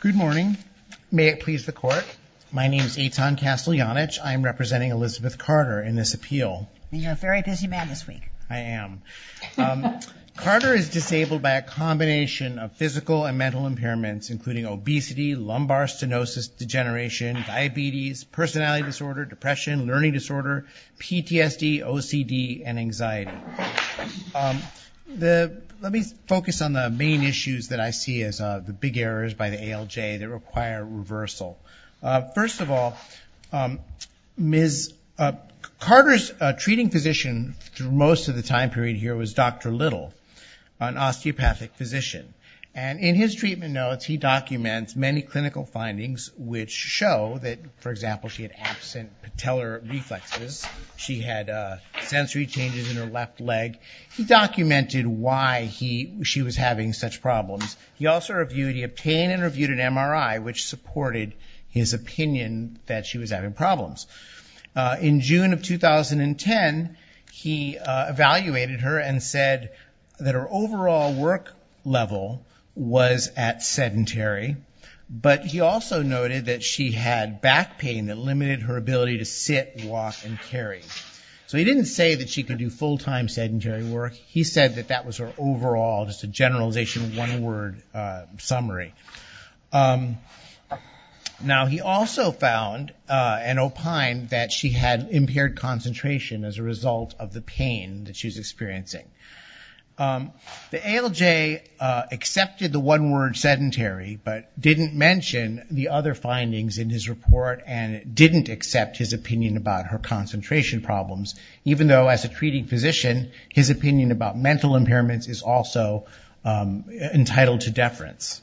Good morning. May it please the court. My name is Eitan Casteljanich. I'm representing Elizabeth Carter in this appeal. You're a very busy man this week. I am. Carter is disabled by a combination of physical and mental impairments including obesity, lumbar stenosis, degeneration, diabetes, personality disorder, depression, learning disorder, PTSD, OCD, and anxiety. Let me focus on the main issues that I see as the big errors by the ALJ that require reversal. First of all, Ms. Carter's treating physician through most of the time period here was Dr. Little, an osteopathic physician. And in his treatment notes, he documents many clinical findings which show that, for example, she had absent patellar reflexes. She had sensory changes in her left leg. He documented why she was having such problems. He also reviewed, he obtained and reviewed an MRI which supported his opinion that she was having problems. In June of 2010, he evaluated her and said that her overall work level was at sedentary. But he also noted that she had back pain that limited her ability to sit, walk, and carry. So he didn't say that she could do full-time sedentary work. He said that that was her overall, just a generalization, one-word summary. Now, he also found and opined that she had impaired concentration as a result of the pain that she was experiencing. The ALJ accepted the one-word sedentary but didn't mention the other findings in his report and didn't accept his opinion about her concentration problems, even though, as a treating physician, his opinion about mental impairments is also entitled to deference.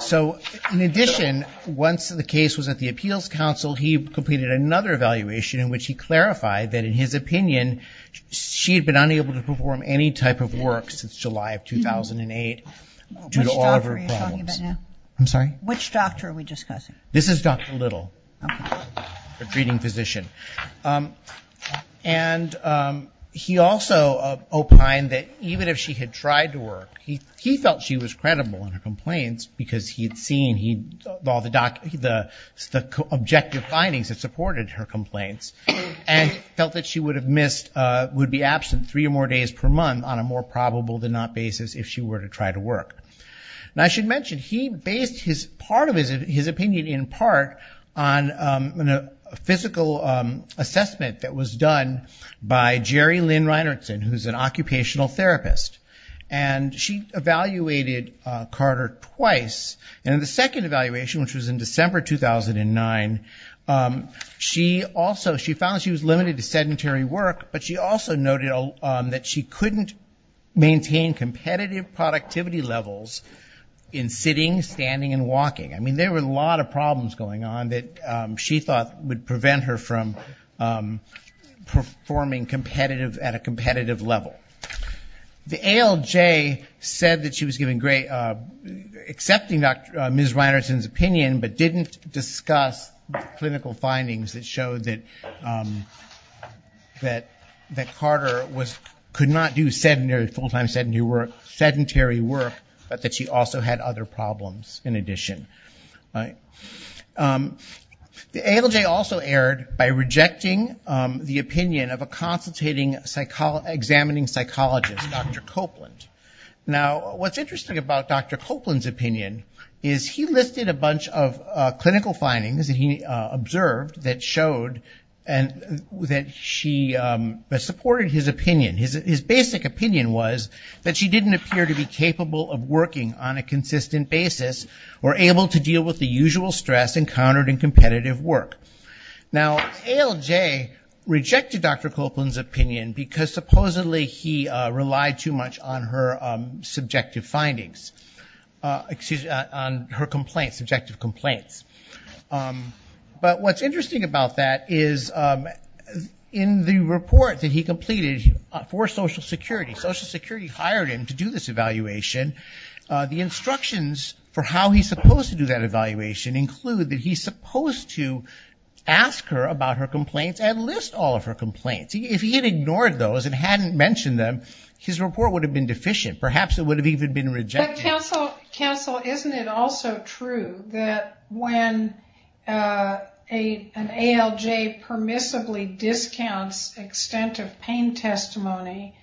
So in addition, once the case was at the Appeals Council, he completed another evaluation in which he clarified that, in his opinion, she had been unable to perform any type of work since July of 2008 due to all of her problems. Which doctor are we discussing? This is Dr. Little, the treating physician. And he also opined that even if she had tried to work, he felt she was credible in her complaints because he had seen all the objective findings that supported her complaints and felt that she would have missed, would be absent three or more days per month on a more probable-than-not basis if she were to try to work. Now, I should mention, he based part of his opinion, in part, on a physical assessment that was done by Jerry Lynn Reinertsen, who's an occupational therapist. And she evaluated Carter twice. And in the second evaluation, which was in December 2009, she also found she was limited to sedentary work, but she also noted that she couldn't maintain competitive productivity levels in sitting, standing, and walking. I mean, there were a lot of problems going on that she thought would prevent her from performing competitive, at a competitive level. The ALJ said that she was giving great, accepting Ms. Reinertsen's opinion, but didn't discuss clinical findings that showed that Carter could not do full-time sedentary work, but that she also had other problems, in addition. The ALJ also erred by rejecting the opinion of a consultating, examining psychologist, Dr. Copeland. Now, what's interesting about Dr. Copeland's opinion is he listed a bunch of clinical findings that he observed that supported his opinion. His basic opinion was that she didn't appear to be capable of working on a consistent basis, or able to deal with the usual stress encountered in competitive work. Now, ALJ rejected Dr. Copeland's opinion because, supposedly, he relied too much on her subjective complaints. But what's interesting about that is, in the report that he completed for Social Security, Social Security hired him to do this evaluation. The instructions for how he's supposed to do that evaluation include that he's supposed to ask her about her complaints and list all of her complaints. If he had ignored those and hadn't mentioned them, his report would have been deficient. Perhaps it would have even been rejected. But counsel, isn't it also true that when an ALJ permissibly discounts extent of pain testimony,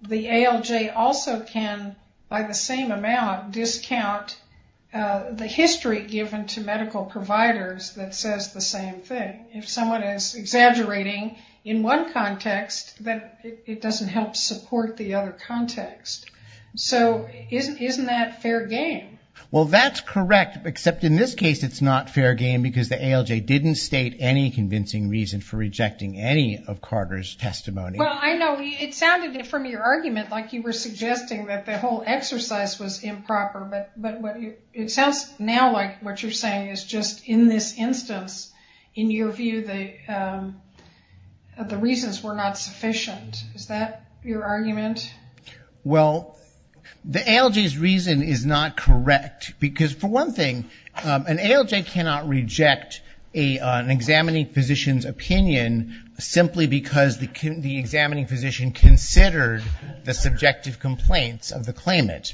the ALJ also can, by the same amount, discount the history given to medical providers that says the same thing? If someone is exaggerating in one context, then it doesn't help support the other context. So, isn't that fair game? Well, that's correct. Except in this case, it's not fair game because the ALJ didn't state any convincing reason for rejecting any of Carter's testimony. Well, I know it sounded from your argument like you were suggesting that the whole exercise was improper. But it sounds now like what you're saying is just in this instance, in your view, the reasons were not sufficient. Is that your argument? Well, the ALJ's reason is not correct because, for one thing, an ALJ cannot reject an examining physician's opinion simply because the examining physician considered the subjective complaints of the claimant.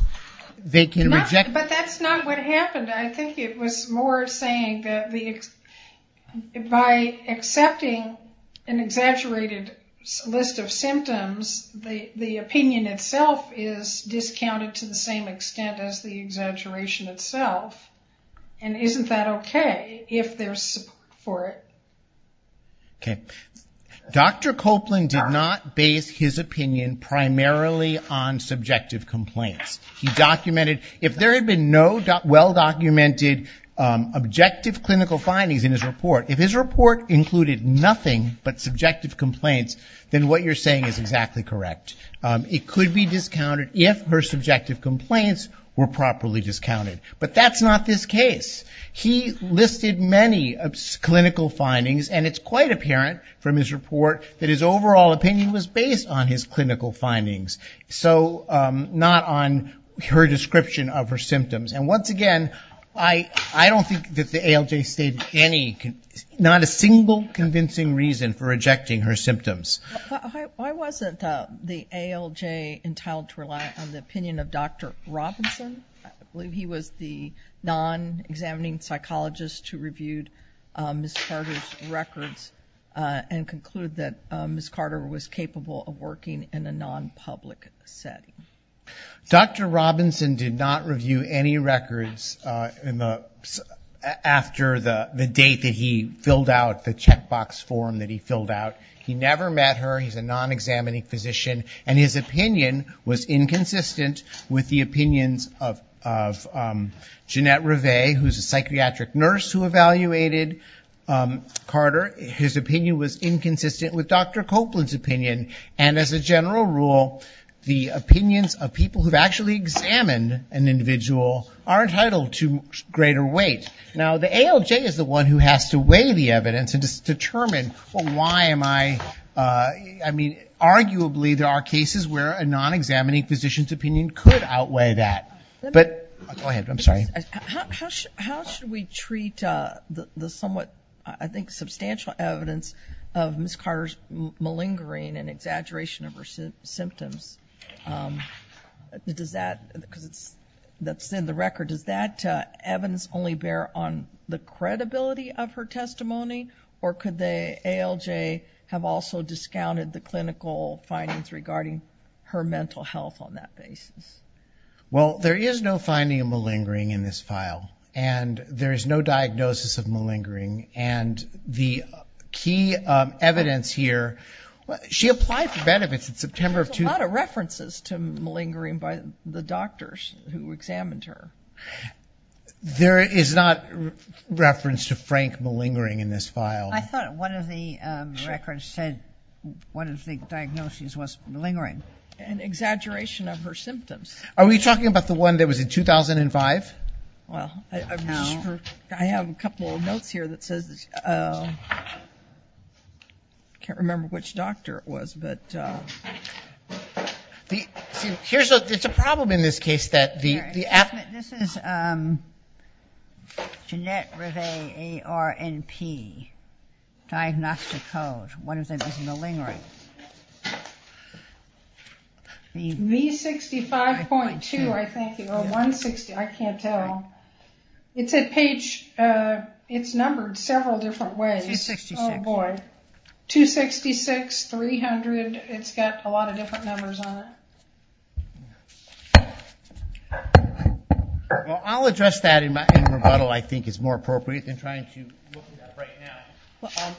But that's not what happened. I think it was more saying that by accepting an exaggerated list of symptoms, the opinion itself is discounted to the same extent as the exaggeration itself. And isn't that okay if there's support for it? Dr. Copeland did not base his opinion primarily on subjective complaints. He documented, if there had been no well-documented objective clinical findings in his report, if his report included nothing but subjective complaints, then what you're saying is exactly correct. It could be discounted if her subjective complaints were properly discounted. But that's not this that his overall opinion was based on his clinical findings, so not on her description of her symptoms. And once again, I don't think that the ALJ stated any, not a single convincing reason for rejecting her symptoms. Why wasn't the ALJ entitled to rely on the opinion of Dr. Robinson? I believe he was the non-examining psychologist who reviewed Ms. Carter's records and concluded that Ms. Carter was capable of working in a non-public setting. Dr. Robinson did not review any records after the date that he filled out the checkbox form that he filled out. He never met her. He's a non-examining physician. And his opinion was inconsistent with the opinions of Jeanette Rive, who's a psychiatric nurse who evaluated Carter. His opinion was inconsistent with Dr. Copeland's opinion. And as a general rule, the opinions of people who've actually examined an individual are entitled to greater weight. Now, the ALJ is the one who has to weigh the evidence and determine, well, why am I, I a non-examining physician's opinion could outweigh that. Go ahead. I'm sorry. How should we treat the somewhat, I think, substantial evidence of Ms. Carter's malingering and exaggeration of her symptoms? Does that, because it's, that's in the record, does that evidence only bear on the credibility of her testimony? Or could the ALJ have also discounted the clinical findings regarding her mental health on that basis? Well, there is no finding of malingering in this file. And there is no diagnosis of malingering. And the key evidence here, she applied for benefits in September of 2010. There's a lot of references to malingering by the doctors who examined her. There is not reference to frank malingering in this file. I thought one of the records said one of the diagnoses was malingering. An exaggeration of her symptoms. Are we talking about the one that was in 2005? Well, I have a couple of notes here that says, can't remember which doctor it was, but. Here's a, it's a problem in this case that the. This is Jeanette Rive, A-R-N-P. Diagnostic Code. What is a malingering? V65.2, I think, or 160, I can't tell. It's a page, it's numbered several different ways. Oh boy, 266, 300, it's got a lot of different numbers on it. Well, I'll address that in my rebuttal, I think it's more appropriate than trying to look at that right now.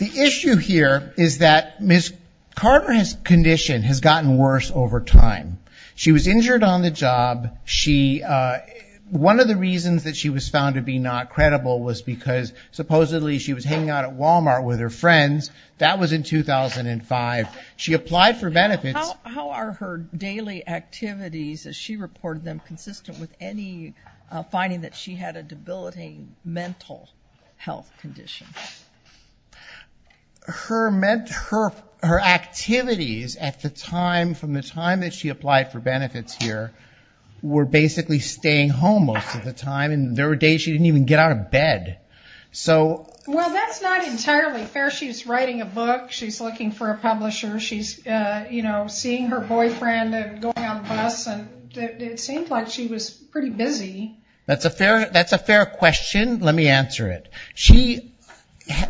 The issue here is that Ms. Carter's condition has gotten worse over time. She was injured on the job. One of the reasons that she was found to be not credible was because supposedly she was hanging out at Walmart with her friends. That was in 2005. She applied for benefits. How are her daily activities, as she reported them, consistent with any finding that she had a debilitating mental health condition? Her activities at the time, from the time that she applied for benefits here, were basically staying home most of the time. There were days she didn't even get out of bed. Well, that's not entirely fair. She's writing a book, she's looking for a publisher, she's seeing her boyfriend and going on the bus. It seemed like she was pretty busy. That's a fair question. Let me answer it. She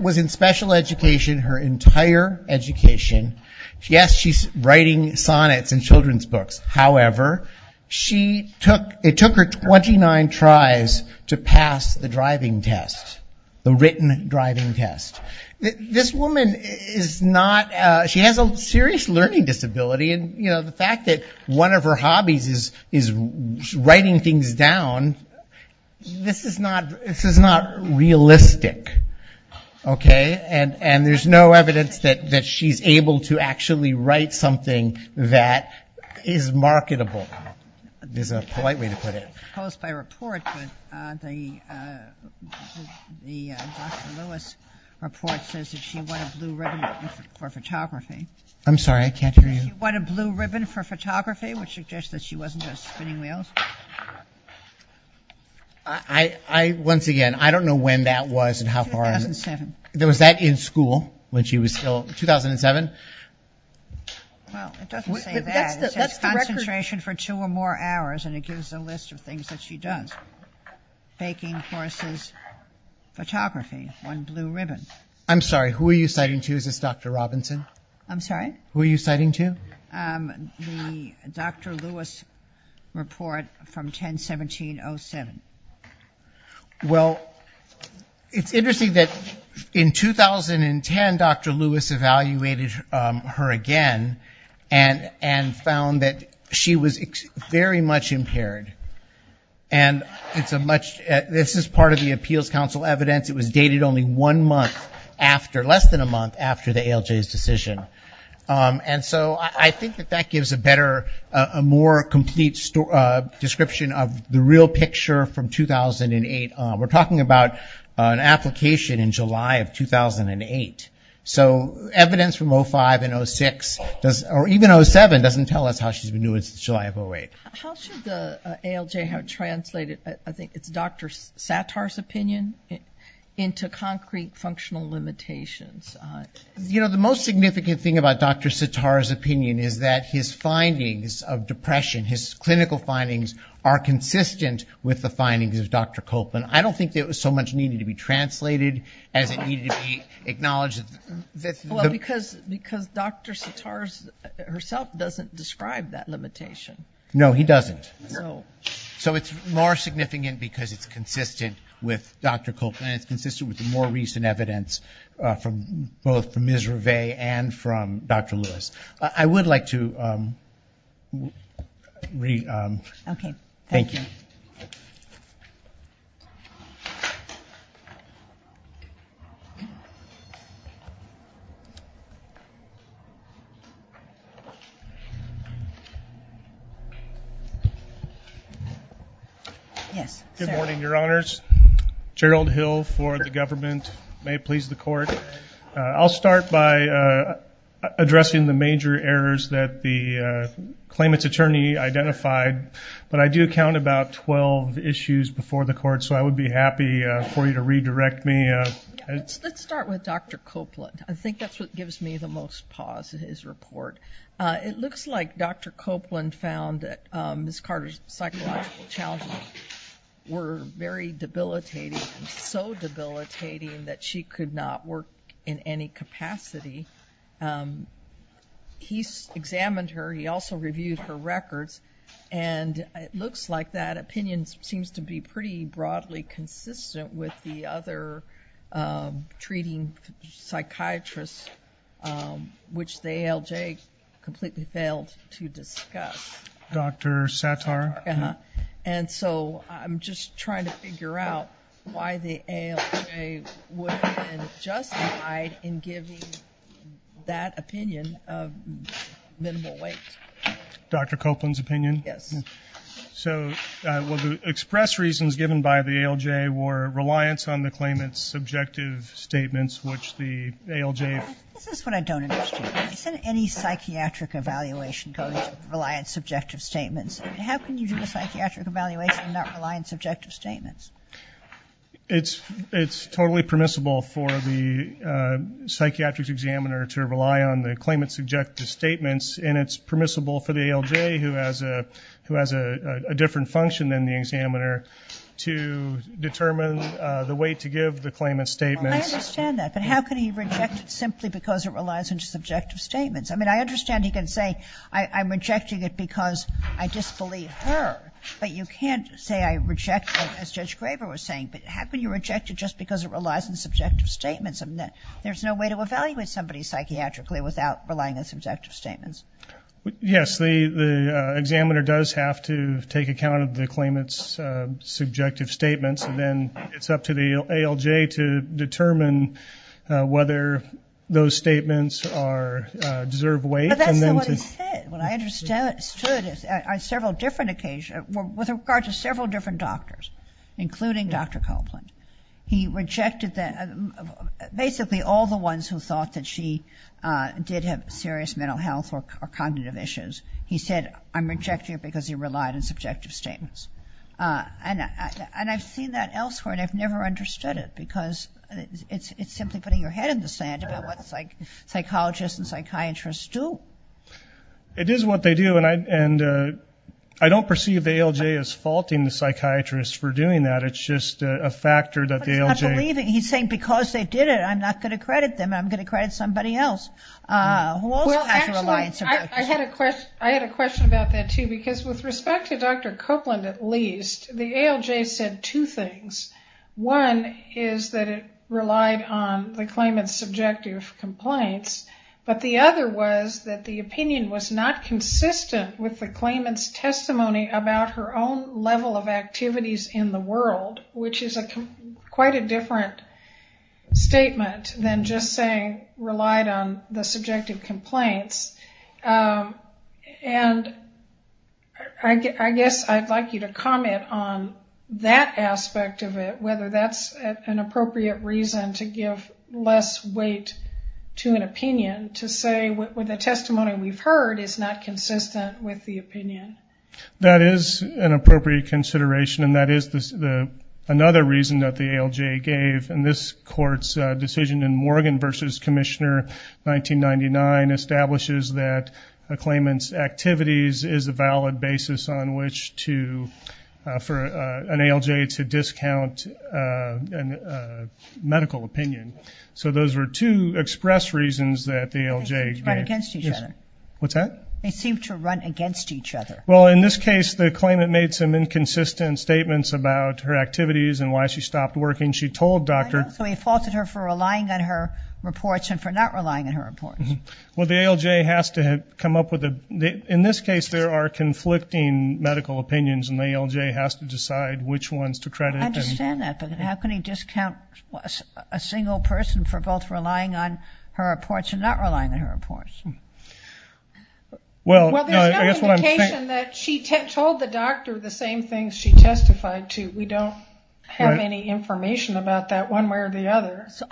was in special education her entire education. Yes, she's writing sonnets and children's books. However, it took her 29 tries to pass the driving test, the written driving test. This woman has a serious learning disability. The fact that one of her hobbies is writing things down, this is not realistic. There's no evidence that she's able to actually write something that is marketable, is a polite way to put it. The Dr. Lewis report says that she won a blue ribbon for photography. I'm sorry, I can't hear you. She won a blue ribbon for photography, which suggests that she wasn't just spinning wheels. I, once again, I don't know when that was and how far. 2007. There was that in school when she was still, 2007? Well, it doesn't say that. It says concentration for two or more hours, and it gives a list of things that she does. Baking courses, photography, won blue ribbon. I'm sorry, who are you citing to? Is this Dr. Robinson? I'm sorry? Who are you citing to? The Dr. Lewis report from 10-17-07. Well, it's interesting that in 2010, Dr. Lewis evaluated her again and found that she was very much impaired. And it's a much, this is part of the Appeals Council evidence. It was dated only one month after, less than a month after the ALJ's decision. And so I think that that gives a better, a more complete description of the real picture from 2008. We're talking about an application in July of 2008. So evidence from 05 and 06, or even 07, doesn't tell us how she's been doing since July of 08. How should the ALJ have translated, I think it's Dr. Sattar's opinion, into concrete functional limitations? You know, the most significant thing about Dr. Sattar's opinion is that his findings of depression, his clinical findings are consistent with the findings of Dr. Copeland. I don't think that it was so much needed to be translated as it needed to be acknowledged. Well, because Dr. Sattar herself doesn't describe that limitation. No, he doesn't. So it's more significant because it's consistent with Dr. Copeland. And it's consistent with the more recent evidence from both Ms. Rivea and from Dr. Lewis. I would like to re- Okay. Thank you. Yes, sir. Good morning, Your Honors. Gerald Hill for the government. May it please the court. I'll start by addressing the major errors that the claimant's attorney identified. But I do count about 12 issues before the court, so I would be happy for you to redirect me. Let's start with Dr. Copeland. I think that's what gives me the most pause in his report. It looks like Dr. Copeland found that Ms. Carter's psychological challenges were very debilitating, so debilitating that she could not work in any capacity. He examined her. He also reviewed her records. And it looks like that opinion seems to be pretty broadly consistent with the other treating psychiatrists, which the ALJ completely failed to discuss. Dr. Sattar? Uh-huh. And so I'm just trying to figure out why the ALJ would have been justified in giving that opinion of minimal weight. Dr. Copeland's opinion? Yes. So the express reasons given by the ALJ were reliance on the claimant's subjective statements, which the ALJ- This is what I don't understand. He said any psychiatric evaluation goes with reliance on subjective statements. How can you do a psychiatric evaluation and not rely on subjective statements? It's totally permissible for the psychiatric examiner to rely on the claimant's subjective statements, and it's permissible for the ALJ, who has a different function than the examiner, to determine the weight to give the claimant's statements. Well, I understand that, but how can he reject it simply because it relies on subjective statements? I mean, I understand he can say I'm rejecting it because I disbelieve her, but you can't say I reject it, as Judge Graber was saying. But how can you reject it just because it relies on subjective statements? There's no way to evaluate somebody psychiatrically without relying on subjective statements. Yes, the examiner does have to take account of the claimant's subjective statements, and then it's up to the ALJ to determine whether those statements deserve weight. But that's not what he said. What I understood is on several different occasions, with regard to several different doctors, including Dr. Copeland, he rejected basically all the ones who thought that she did have serious mental health or cognitive issues. He said, I'm rejecting it because you relied on subjective statements. And I've seen that elsewhere, and I've never understood it, because it's simply putting your head in the sand about what psychologists and psychiatrists do. It is what they do, and I don't perceive the ALJ as faulting the psychiatrist for doing that. It's just a factor that the ALJ- He's saying because they did it, I'm not going to credit them. I'm going to credit somebody else who also has a reliance on that. I had a question about that, too, because with respect to Dr. Copeland, at least, the ALJ said two things. One is that it relied on the claimant's subjective complaints, but the other was that the opinion was not consistent with the claimant's testimony about her own level of activities in the world, which is quite a different statement than just saying relied on the subjective complaints. And I guess I'd like you to comment on that aspect of it, whether that's an appropriate reason to give less weight to an opinion, to say the testimony we've heard is not consistent with the opinion. That is an appropriate consideration, and that is another reason that the ALJ gave. And this Court's decision in Morgan v. Commissioner 1999 establishes that a claimant's activities is a valid basis on which to, for an ALJ to discount a medical opinion. So those were two express reasons that the ALJ gave. They seem to run against each other. What's that? They seem to run against each other. Well, in this case, the claimant made some inconsistent statements about her activities and why she stopped working. She told Dr. I know, so he faulted her for relying on her reports and for not relying on her reports. Well, the ALJ has to come up with a, in this case, there are conflicting medical opinions, and the ALJ has to decide which ones to credit. I understand that, but how can he discount a single person for both relying on her reports and not relying on her reports? Well, I guess what I'm saying. Well, there's no indication that she told the doctor the same things she testified to. We don't have any information about that one way or the other, so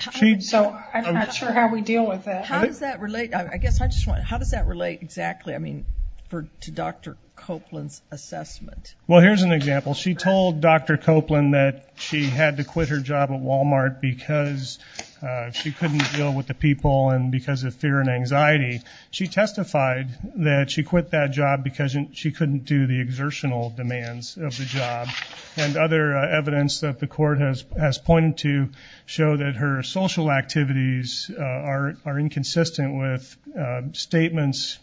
I'm not sure how we deal with that. How does that relate? I guess I just want to know, how does that relate exactly, I mean, to Dr. Copeland's assessment? Well, here's an example. She told Dr. Copeland that she had to quit her job at Walmart because she couldn't deal with the people and because of fear and anxiety. She testified that she quit that job because she couldn't do the exertional demands of the job, and other evidence that the court has pointed to show that her social activities are inconsistent with statements,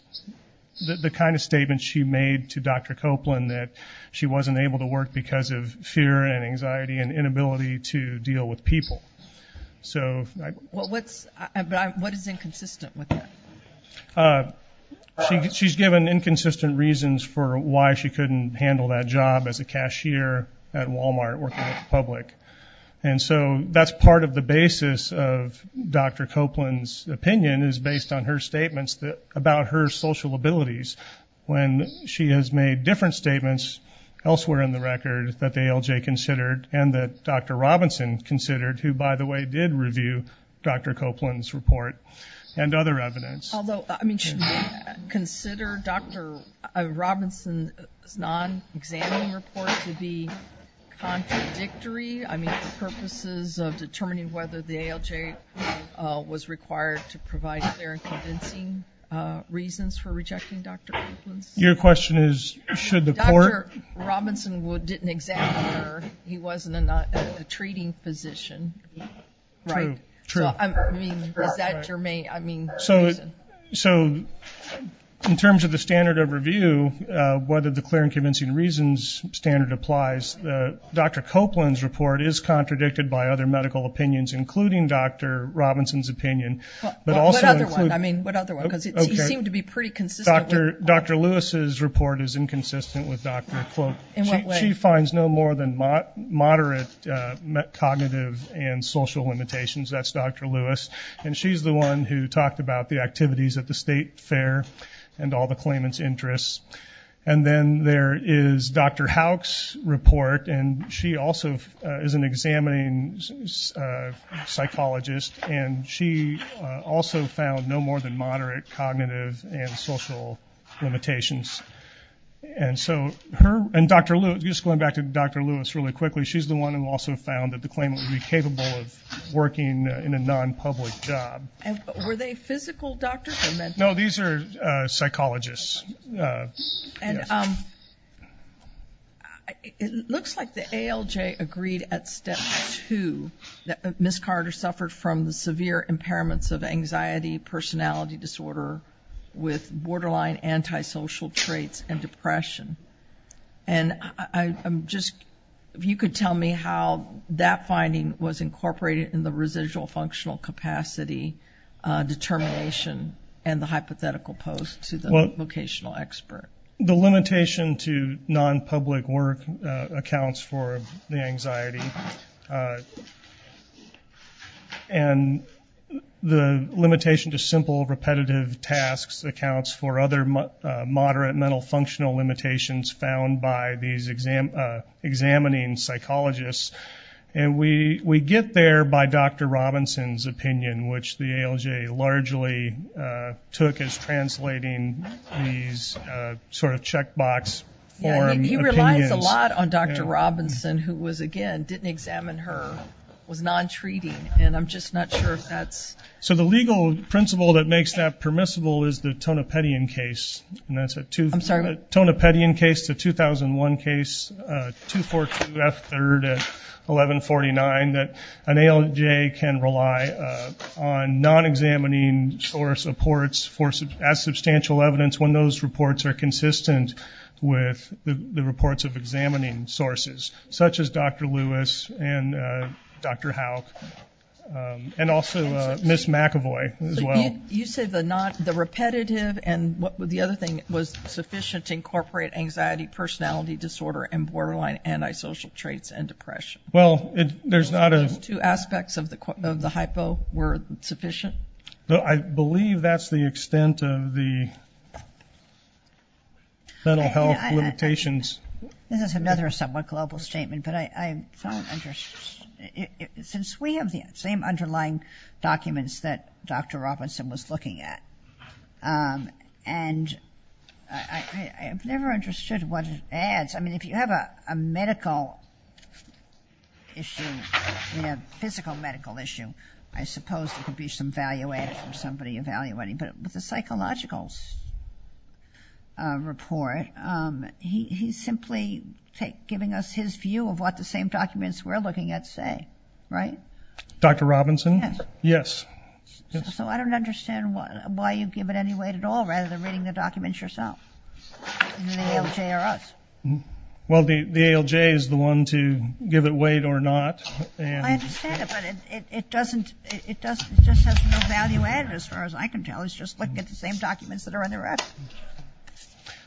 the kind of statements she made to Dr. Copeland, that she wasn't able to work because of fear and anxiety and inability to deal with people. So what is inconsistent with that? She's given inconsistent reasons for why she couldn't handle that job as a cashier at Walmart working with the public. And so that's part of the basis of Dr. Copeland's opinion is based on her statements about her social abilities when she has made different statements elsewhere in the record that the ALJ considered and that Dr. Robinson considered, who, by the way, did review Dr. Copeland's report and other evidence. Although, I mean, should we consider Dr. Robinson's non-examining report to be contradictory, I mean, for purposes of determining whether the ALJ was required to provide clear and convincing reasons for rejecting Dr. Copeland's report? Your question is, should the court? Dr. Robinson didn't examine her. He wasn't a treating physician. Right. True. I mean, is that your main reason? So in terms of the standard of review, whether the clear and convincing reasons standard applies, Dr. Copeland's report is contradicted by other medical opinions, including Dr. Robinson's opinion. What other one? I mean, what other one? Because he seemed to be pretty consistent. Dr. Lewis's report is inconsistent with Dr. Cloak. In what way? She finds no more than moderate cognitive and social limitations. That's Dr. Lewis, and she's the one who talked about the activities at the State Fair and all the claimants' interests. And then there is Dr. Howick's report, and she also is an examining psychologist, and she also found no more than moderate cognitive and social limitations. And so her and Dr. Lewis, just going back to Dr. Lewis really quickly, she's the one who also found that the claimant would be capable of working in a non-public job. Were they physical doctors or mental doctors? No, these are psychologists. It looks like the ALJ agreed at step two that Ms. Carter suffered from the severe impairments of anxiety, personality disorder with borderline antisocial traits and depression. And if you could tell me how that finding was incorporated in the residual functional capacity determination and the hypothetical post to the vocational expert. The limitation to non-public work accounts for the anxiety, and the limitation to simple repetitive tasks accounts for other moderate mental functional limitations found by these examining psychologists. And we get there by Dr. Robinson's opinion, which the ALJ largely took as translating these sort of checkbox form opinions. He relies a lot on Dr. Robinson, who was, again, didn't examine her, was non-treating, and I'm just not sure if that's... So the legal principle that makes that permissible is the Tonopetian case, and that's a Tonopetian case, the 2001 case, 242F3 at 1149, that an ALJ can rely on non-examining source reports as substantial evidence when those reports are consistent with the reports of examining sources, such as Dr. Lewis and Dr. Howick, and also Ms. McAvoy as well. You say the repetitive and the other thing was sufficient to incorporate anxiety, personality disorder, and borderline antisocial traits and depression. Well, there's not a... Two aspects of the hypo were sufficient? I believe that's the extent of the mental health limitations. This is another somewhat global statement, but I don't understand. Since we have the same underlying documents that Dr. Robinson was looking at, and I've never understood what it adds. I mean, if you have a medical issue, a physical medical issue, I suppose there could be some value added from somebody evaluating. But with the psychological report, he's simply giving us his view of what the same documents we're looking at say, right? Dr. Robinson? Yes. So I don't understand why you give it any weight at all rather than reading the documents yourself, the ALJ or us. Well, the ALJ is the one to give it weight or not. I understand it, but it just has no value added as far as I can tell.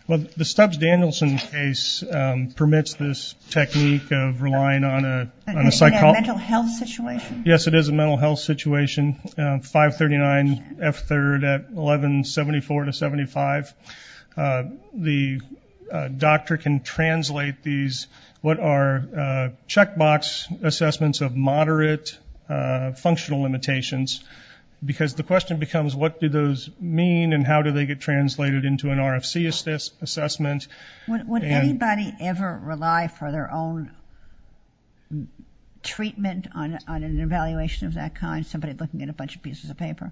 Well, the Stubbs-Danielson case permits this technique of relying on a psychologist. Is it a mental health situation? Yes, it is a mental health situation, 539 F3rd at 1174 to 75. The doctor can translate these, what are checkbox assessments of moderate functional limitations, because the question becomes what do those mean and how do they get translated into an RFC assessment. Would anybody ever rely for their own treatment on an evaluation of that kind, somebody looking at a bunch of pieces of paper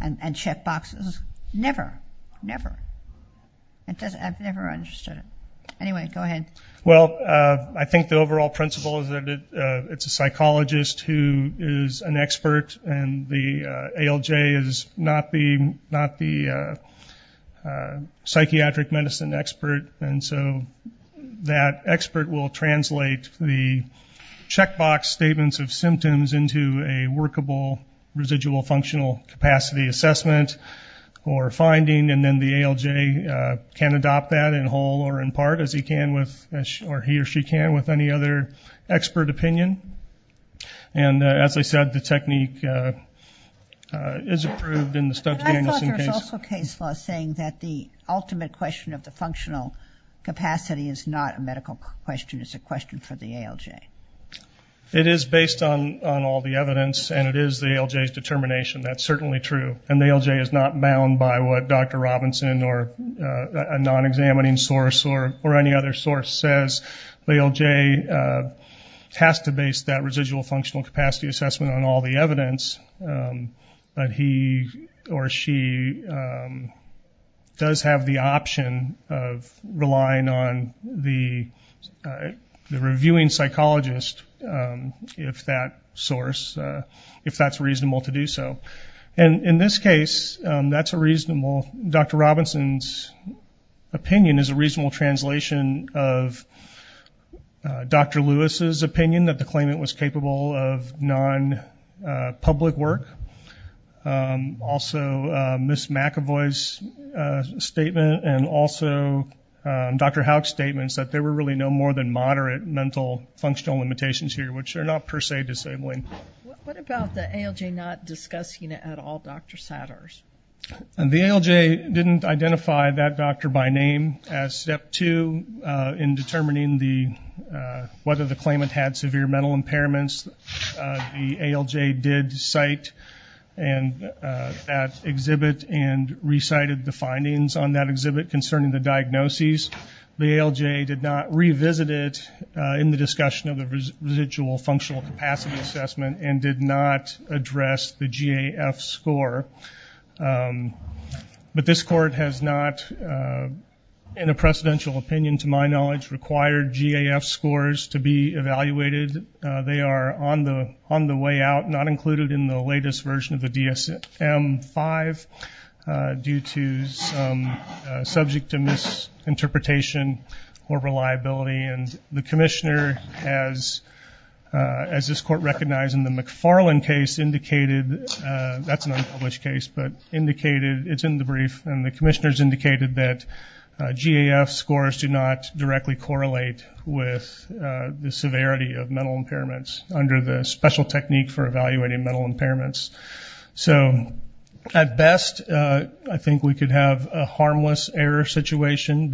and checkboxes? Never, never. I've never understood it. Anyway, go ahead. Well, I think the overall principle is that it's a psychologist who is an expert and the ALJ is not the psychiatric medicine expert, and so that expert will translate the checkbox statements of symptoms into a workable residual functional capacity assessment or finding, and then the ALJ can adopt that in whole or in part, as he or she can with any other expert opinion. And as I said, the technique is approved in the Stubbs-Danielson case. I thought there was also case law saying that the ultimate question of the functional capacity is not a medical question, it's a question for the ALJ. It is based on all the evidence and it is the ALJ's determination. That's certainly true. And the ALJ is not bound by what Dr. Robinson or a non-examining source or any other source says. The ALJ has to base that residual functional capacity assessment on all the evidence, but he or she does have the option of relying on the reviewing psychologist, if that's reasonable to do so. Well, Dr. Robinson's opinion is a reasonable translation of Dr. Lewis's opinion, that the claimant was capable of non-public work. Also, Ms. McEvoy's statement, and also Dr. Howick's statements, that there were really no more than moderate mental functional limitations here, which they're not per se disabling. What about the ALJ not discussing it at all, Dr. Satters? The ALJ didn't identify that doctor by name as step two in determining whether the claimant had severe mental impairments. The ALJ did cite that exhibit and recited the findings on that exhibit concerning the diagnoses. The ALJ did not revisit it in the discussion of the residual functional capacity assessment and did not address the GAF score. But this court has not, in a precedential opinion to my knowledge, required GAF scores to be evaluated. They are on the way out, not included in the latest version of the DSM-5, due to subject to misinterpretation or reliability. The commissioner, as this court recognized in the McFarland case, indicated that's an unpublished case, but indicated it's in the brief. The commissioner has indicated that GAF scores do not directly correlate with the severity of mental impairments under the special technique for evaluating mental impairments. At best, I think we could have a harmless error situation,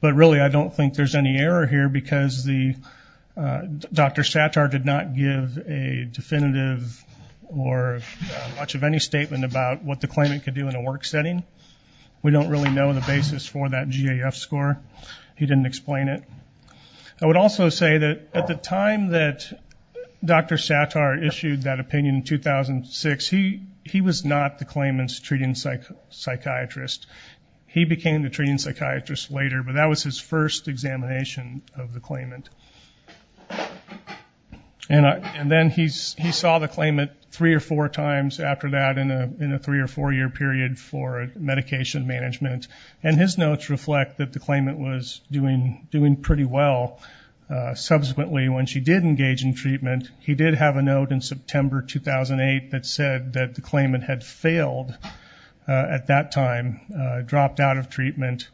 but really I don't think there's any error here because Dr. Sattar did not give a definitive or much of any statement about what the claimant could do in a work setting. We don't really know the basis for that GAF score. He didn't explain it. I would also say that at the time that Dr. Sattar issued that opinion in 2006, he was not the claimant's treating psychiatrist. He became the treating psychiatrist later, but that was his first examination of the claimant. Then he saw the claimant three or four times after that in a three- or four-year period for medication management, and his notes reflect that the claimant was doing pretty well. Subsequently, when she did engage in treatment, he did have a note in September 2008 that said that the claimant had failed at that time, dropped out of treatment,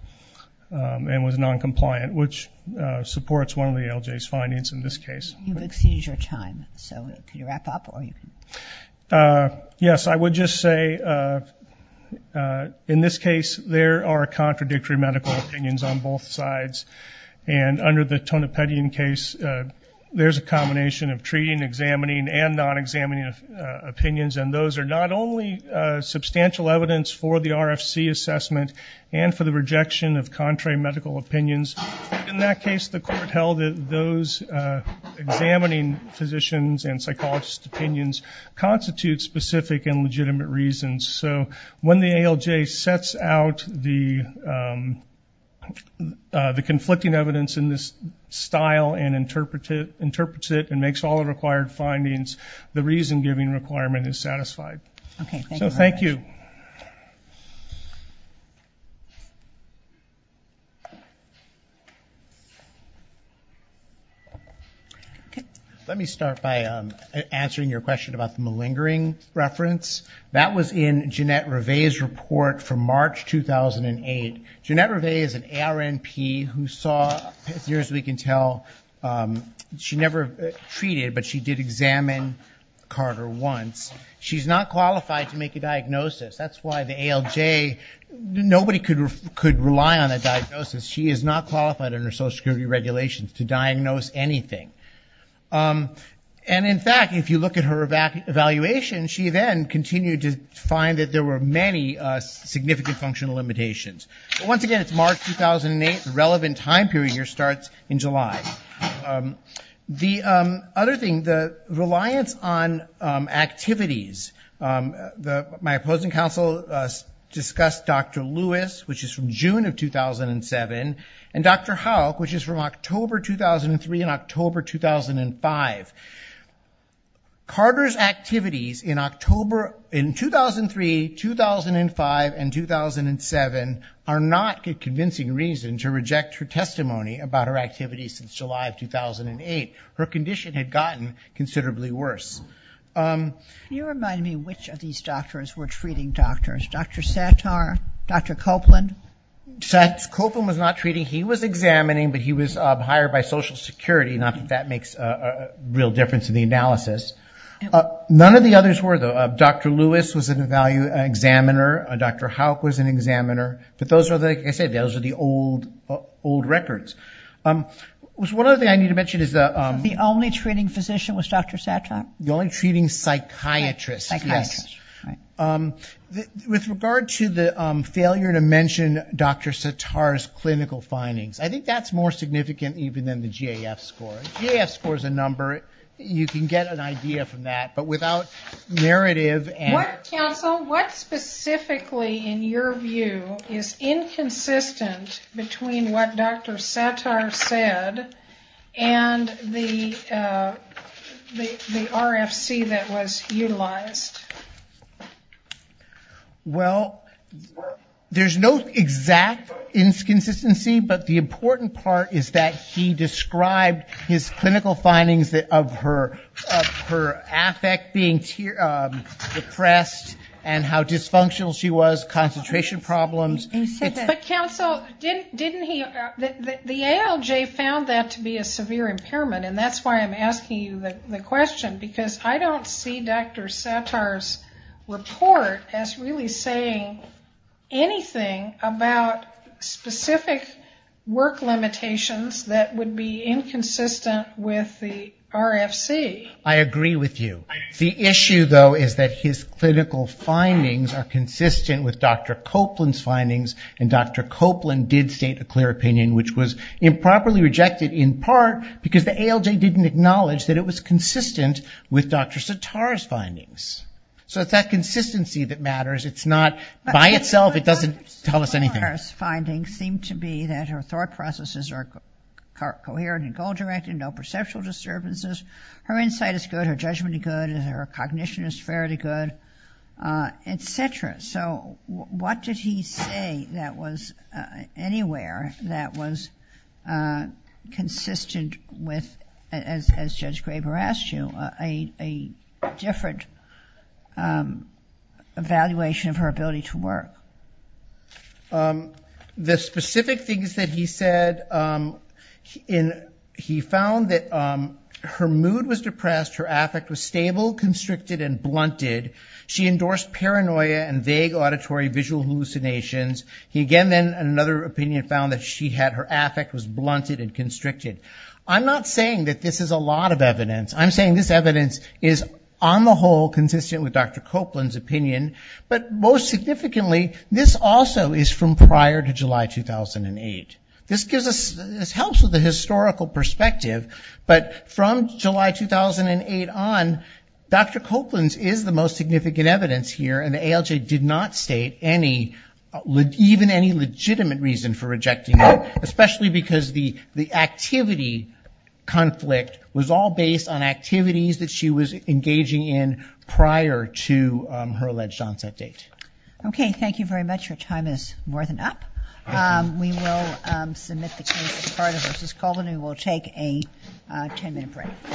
and was noncompliant, which supports one of the LJ's findings in this case. You've exceeded your time, so could you wrap up? Yes, I would just say in this case there are contradictory medical opinions on both sides, and under the Tonopetian case there's a combination of treating, examining, and non-examining opinions, and those are not only substantial evidence for the RFC assessment and for the rejection of contrary medical opinions. In that case, the court held that those examining physicians and psychologists' opinions constitute specific and legitimate reasons. So when the ALJ sets out the conflicting evidence in this style and interprets it and makes all the required findings, the reason-giving requirement is satisfied. Okay, thank you very much. So thank you. Let me start by answering your question about the malingering reference. That was in Jeanette Reve's report from March 2008. Jeanette Reve is an ARNP who saw, as near as we can tell, she never treated, but she did examine Carter once. She's not qualified to make a diagnosis. That's why the ALJ, nobody could rely on a diagnosis. She is not qualified under Social Security regulations to diagnose anything. And in fact, if you look at her evaluation, she then continued to find that there were many significant functional limitations. Once again, it's March 2008. The relevant time period here starts in July. The other thing, the reliance on activities. My opposing counsel discussed Dr. Lewis, which is from June of 2007, and Dr. Houck, which is from October 2003 and October 2005. Carter's activities in 2003, 2005, and 2007 are not a convincing reason to reject her testimony about her activities since July of 2008. Her condition had gotten considerably worse. Can you remind me which of these doctors were treating doctors? Dr. Sattar, Dr. Copeland? Dr. Copeland was not treating. He was examining, but he was hired by Social Security. Not that that makes a real difference in the analysis. None of the others were, though. Dr. Lewis was an examiner. Dr. Houck was an examiner. But those are, like I said, those are the old records. One other thing I need to mention is the— The only treating physician was Dr. Sattar? The only treating psychiatrist, yes. With regard to the failure to mention Dr. Sattar's clinical findings, I think that's more significant even than the GAF score. The GAF score is a number. You can get an idea from that. But without narrative and— Counsel, what specifically, in your view, is inconsistent between what Dr. Sattar said and the RFC that was utilized? Well, there's no exact inconsistency, but the important part is that he described his clinical findings of her affect being depressed and how dysfunctional she was, concentration problems. But, counsel, didn't he— The ALJ found that to be a severe impairment, and that's why I'm asking you the question, because I don't see Dr. Sattar's report as really saying anything about specific work limitations that would be inconsistent with the RFC. I agree with you. The issue, though, is that his clinical findings are consistent with Dr. Copeland's findings, and Dr. Copeland did state a clear opinion, which was improperly rejected in part because the ALJ didn't acknowledge that it was consistent with Dr. Sattar's findings. So it's that consistency that matters. It's not—by itself, it doesn't tell us anything. Dr. Sattar's findings seem to be that her thought processes are coherent and goal-directed, no perceptual disturbances. Her insight is good. Her judgment is good. Her cognition is fairly good, etc. So what did he say that was anywhere that was consistent with, as Judge Graber asked you, a different evaluation of her ability to work? The specific things that he said, he found that her mood was depressed, her affect was stable, constricted, and blunted. She endorsed paranoia and vague auditory visual hallucinations. He again then, in another opinion, found that her affect was blunted and constricted. I'm not saying that this is a lot of evidence. I'm saying this evidence is, on the whole, consistent with Dr. Copeland's opinion, but most significantly, this also is from prior to July 2008. This helps with the historical perspective, but from July 2008 on, Dr. Copeland's is the most significant evidence here, and the ALJ did not state even any legitimate reason for rejecting it, especially because the activity conflict was all based on activities that she was engaging in prior to her alleged onset date. Okay, thank you very much. Your time is more than up. We will submit the case of Cardo versus Colvin. We will take a ten-minute break.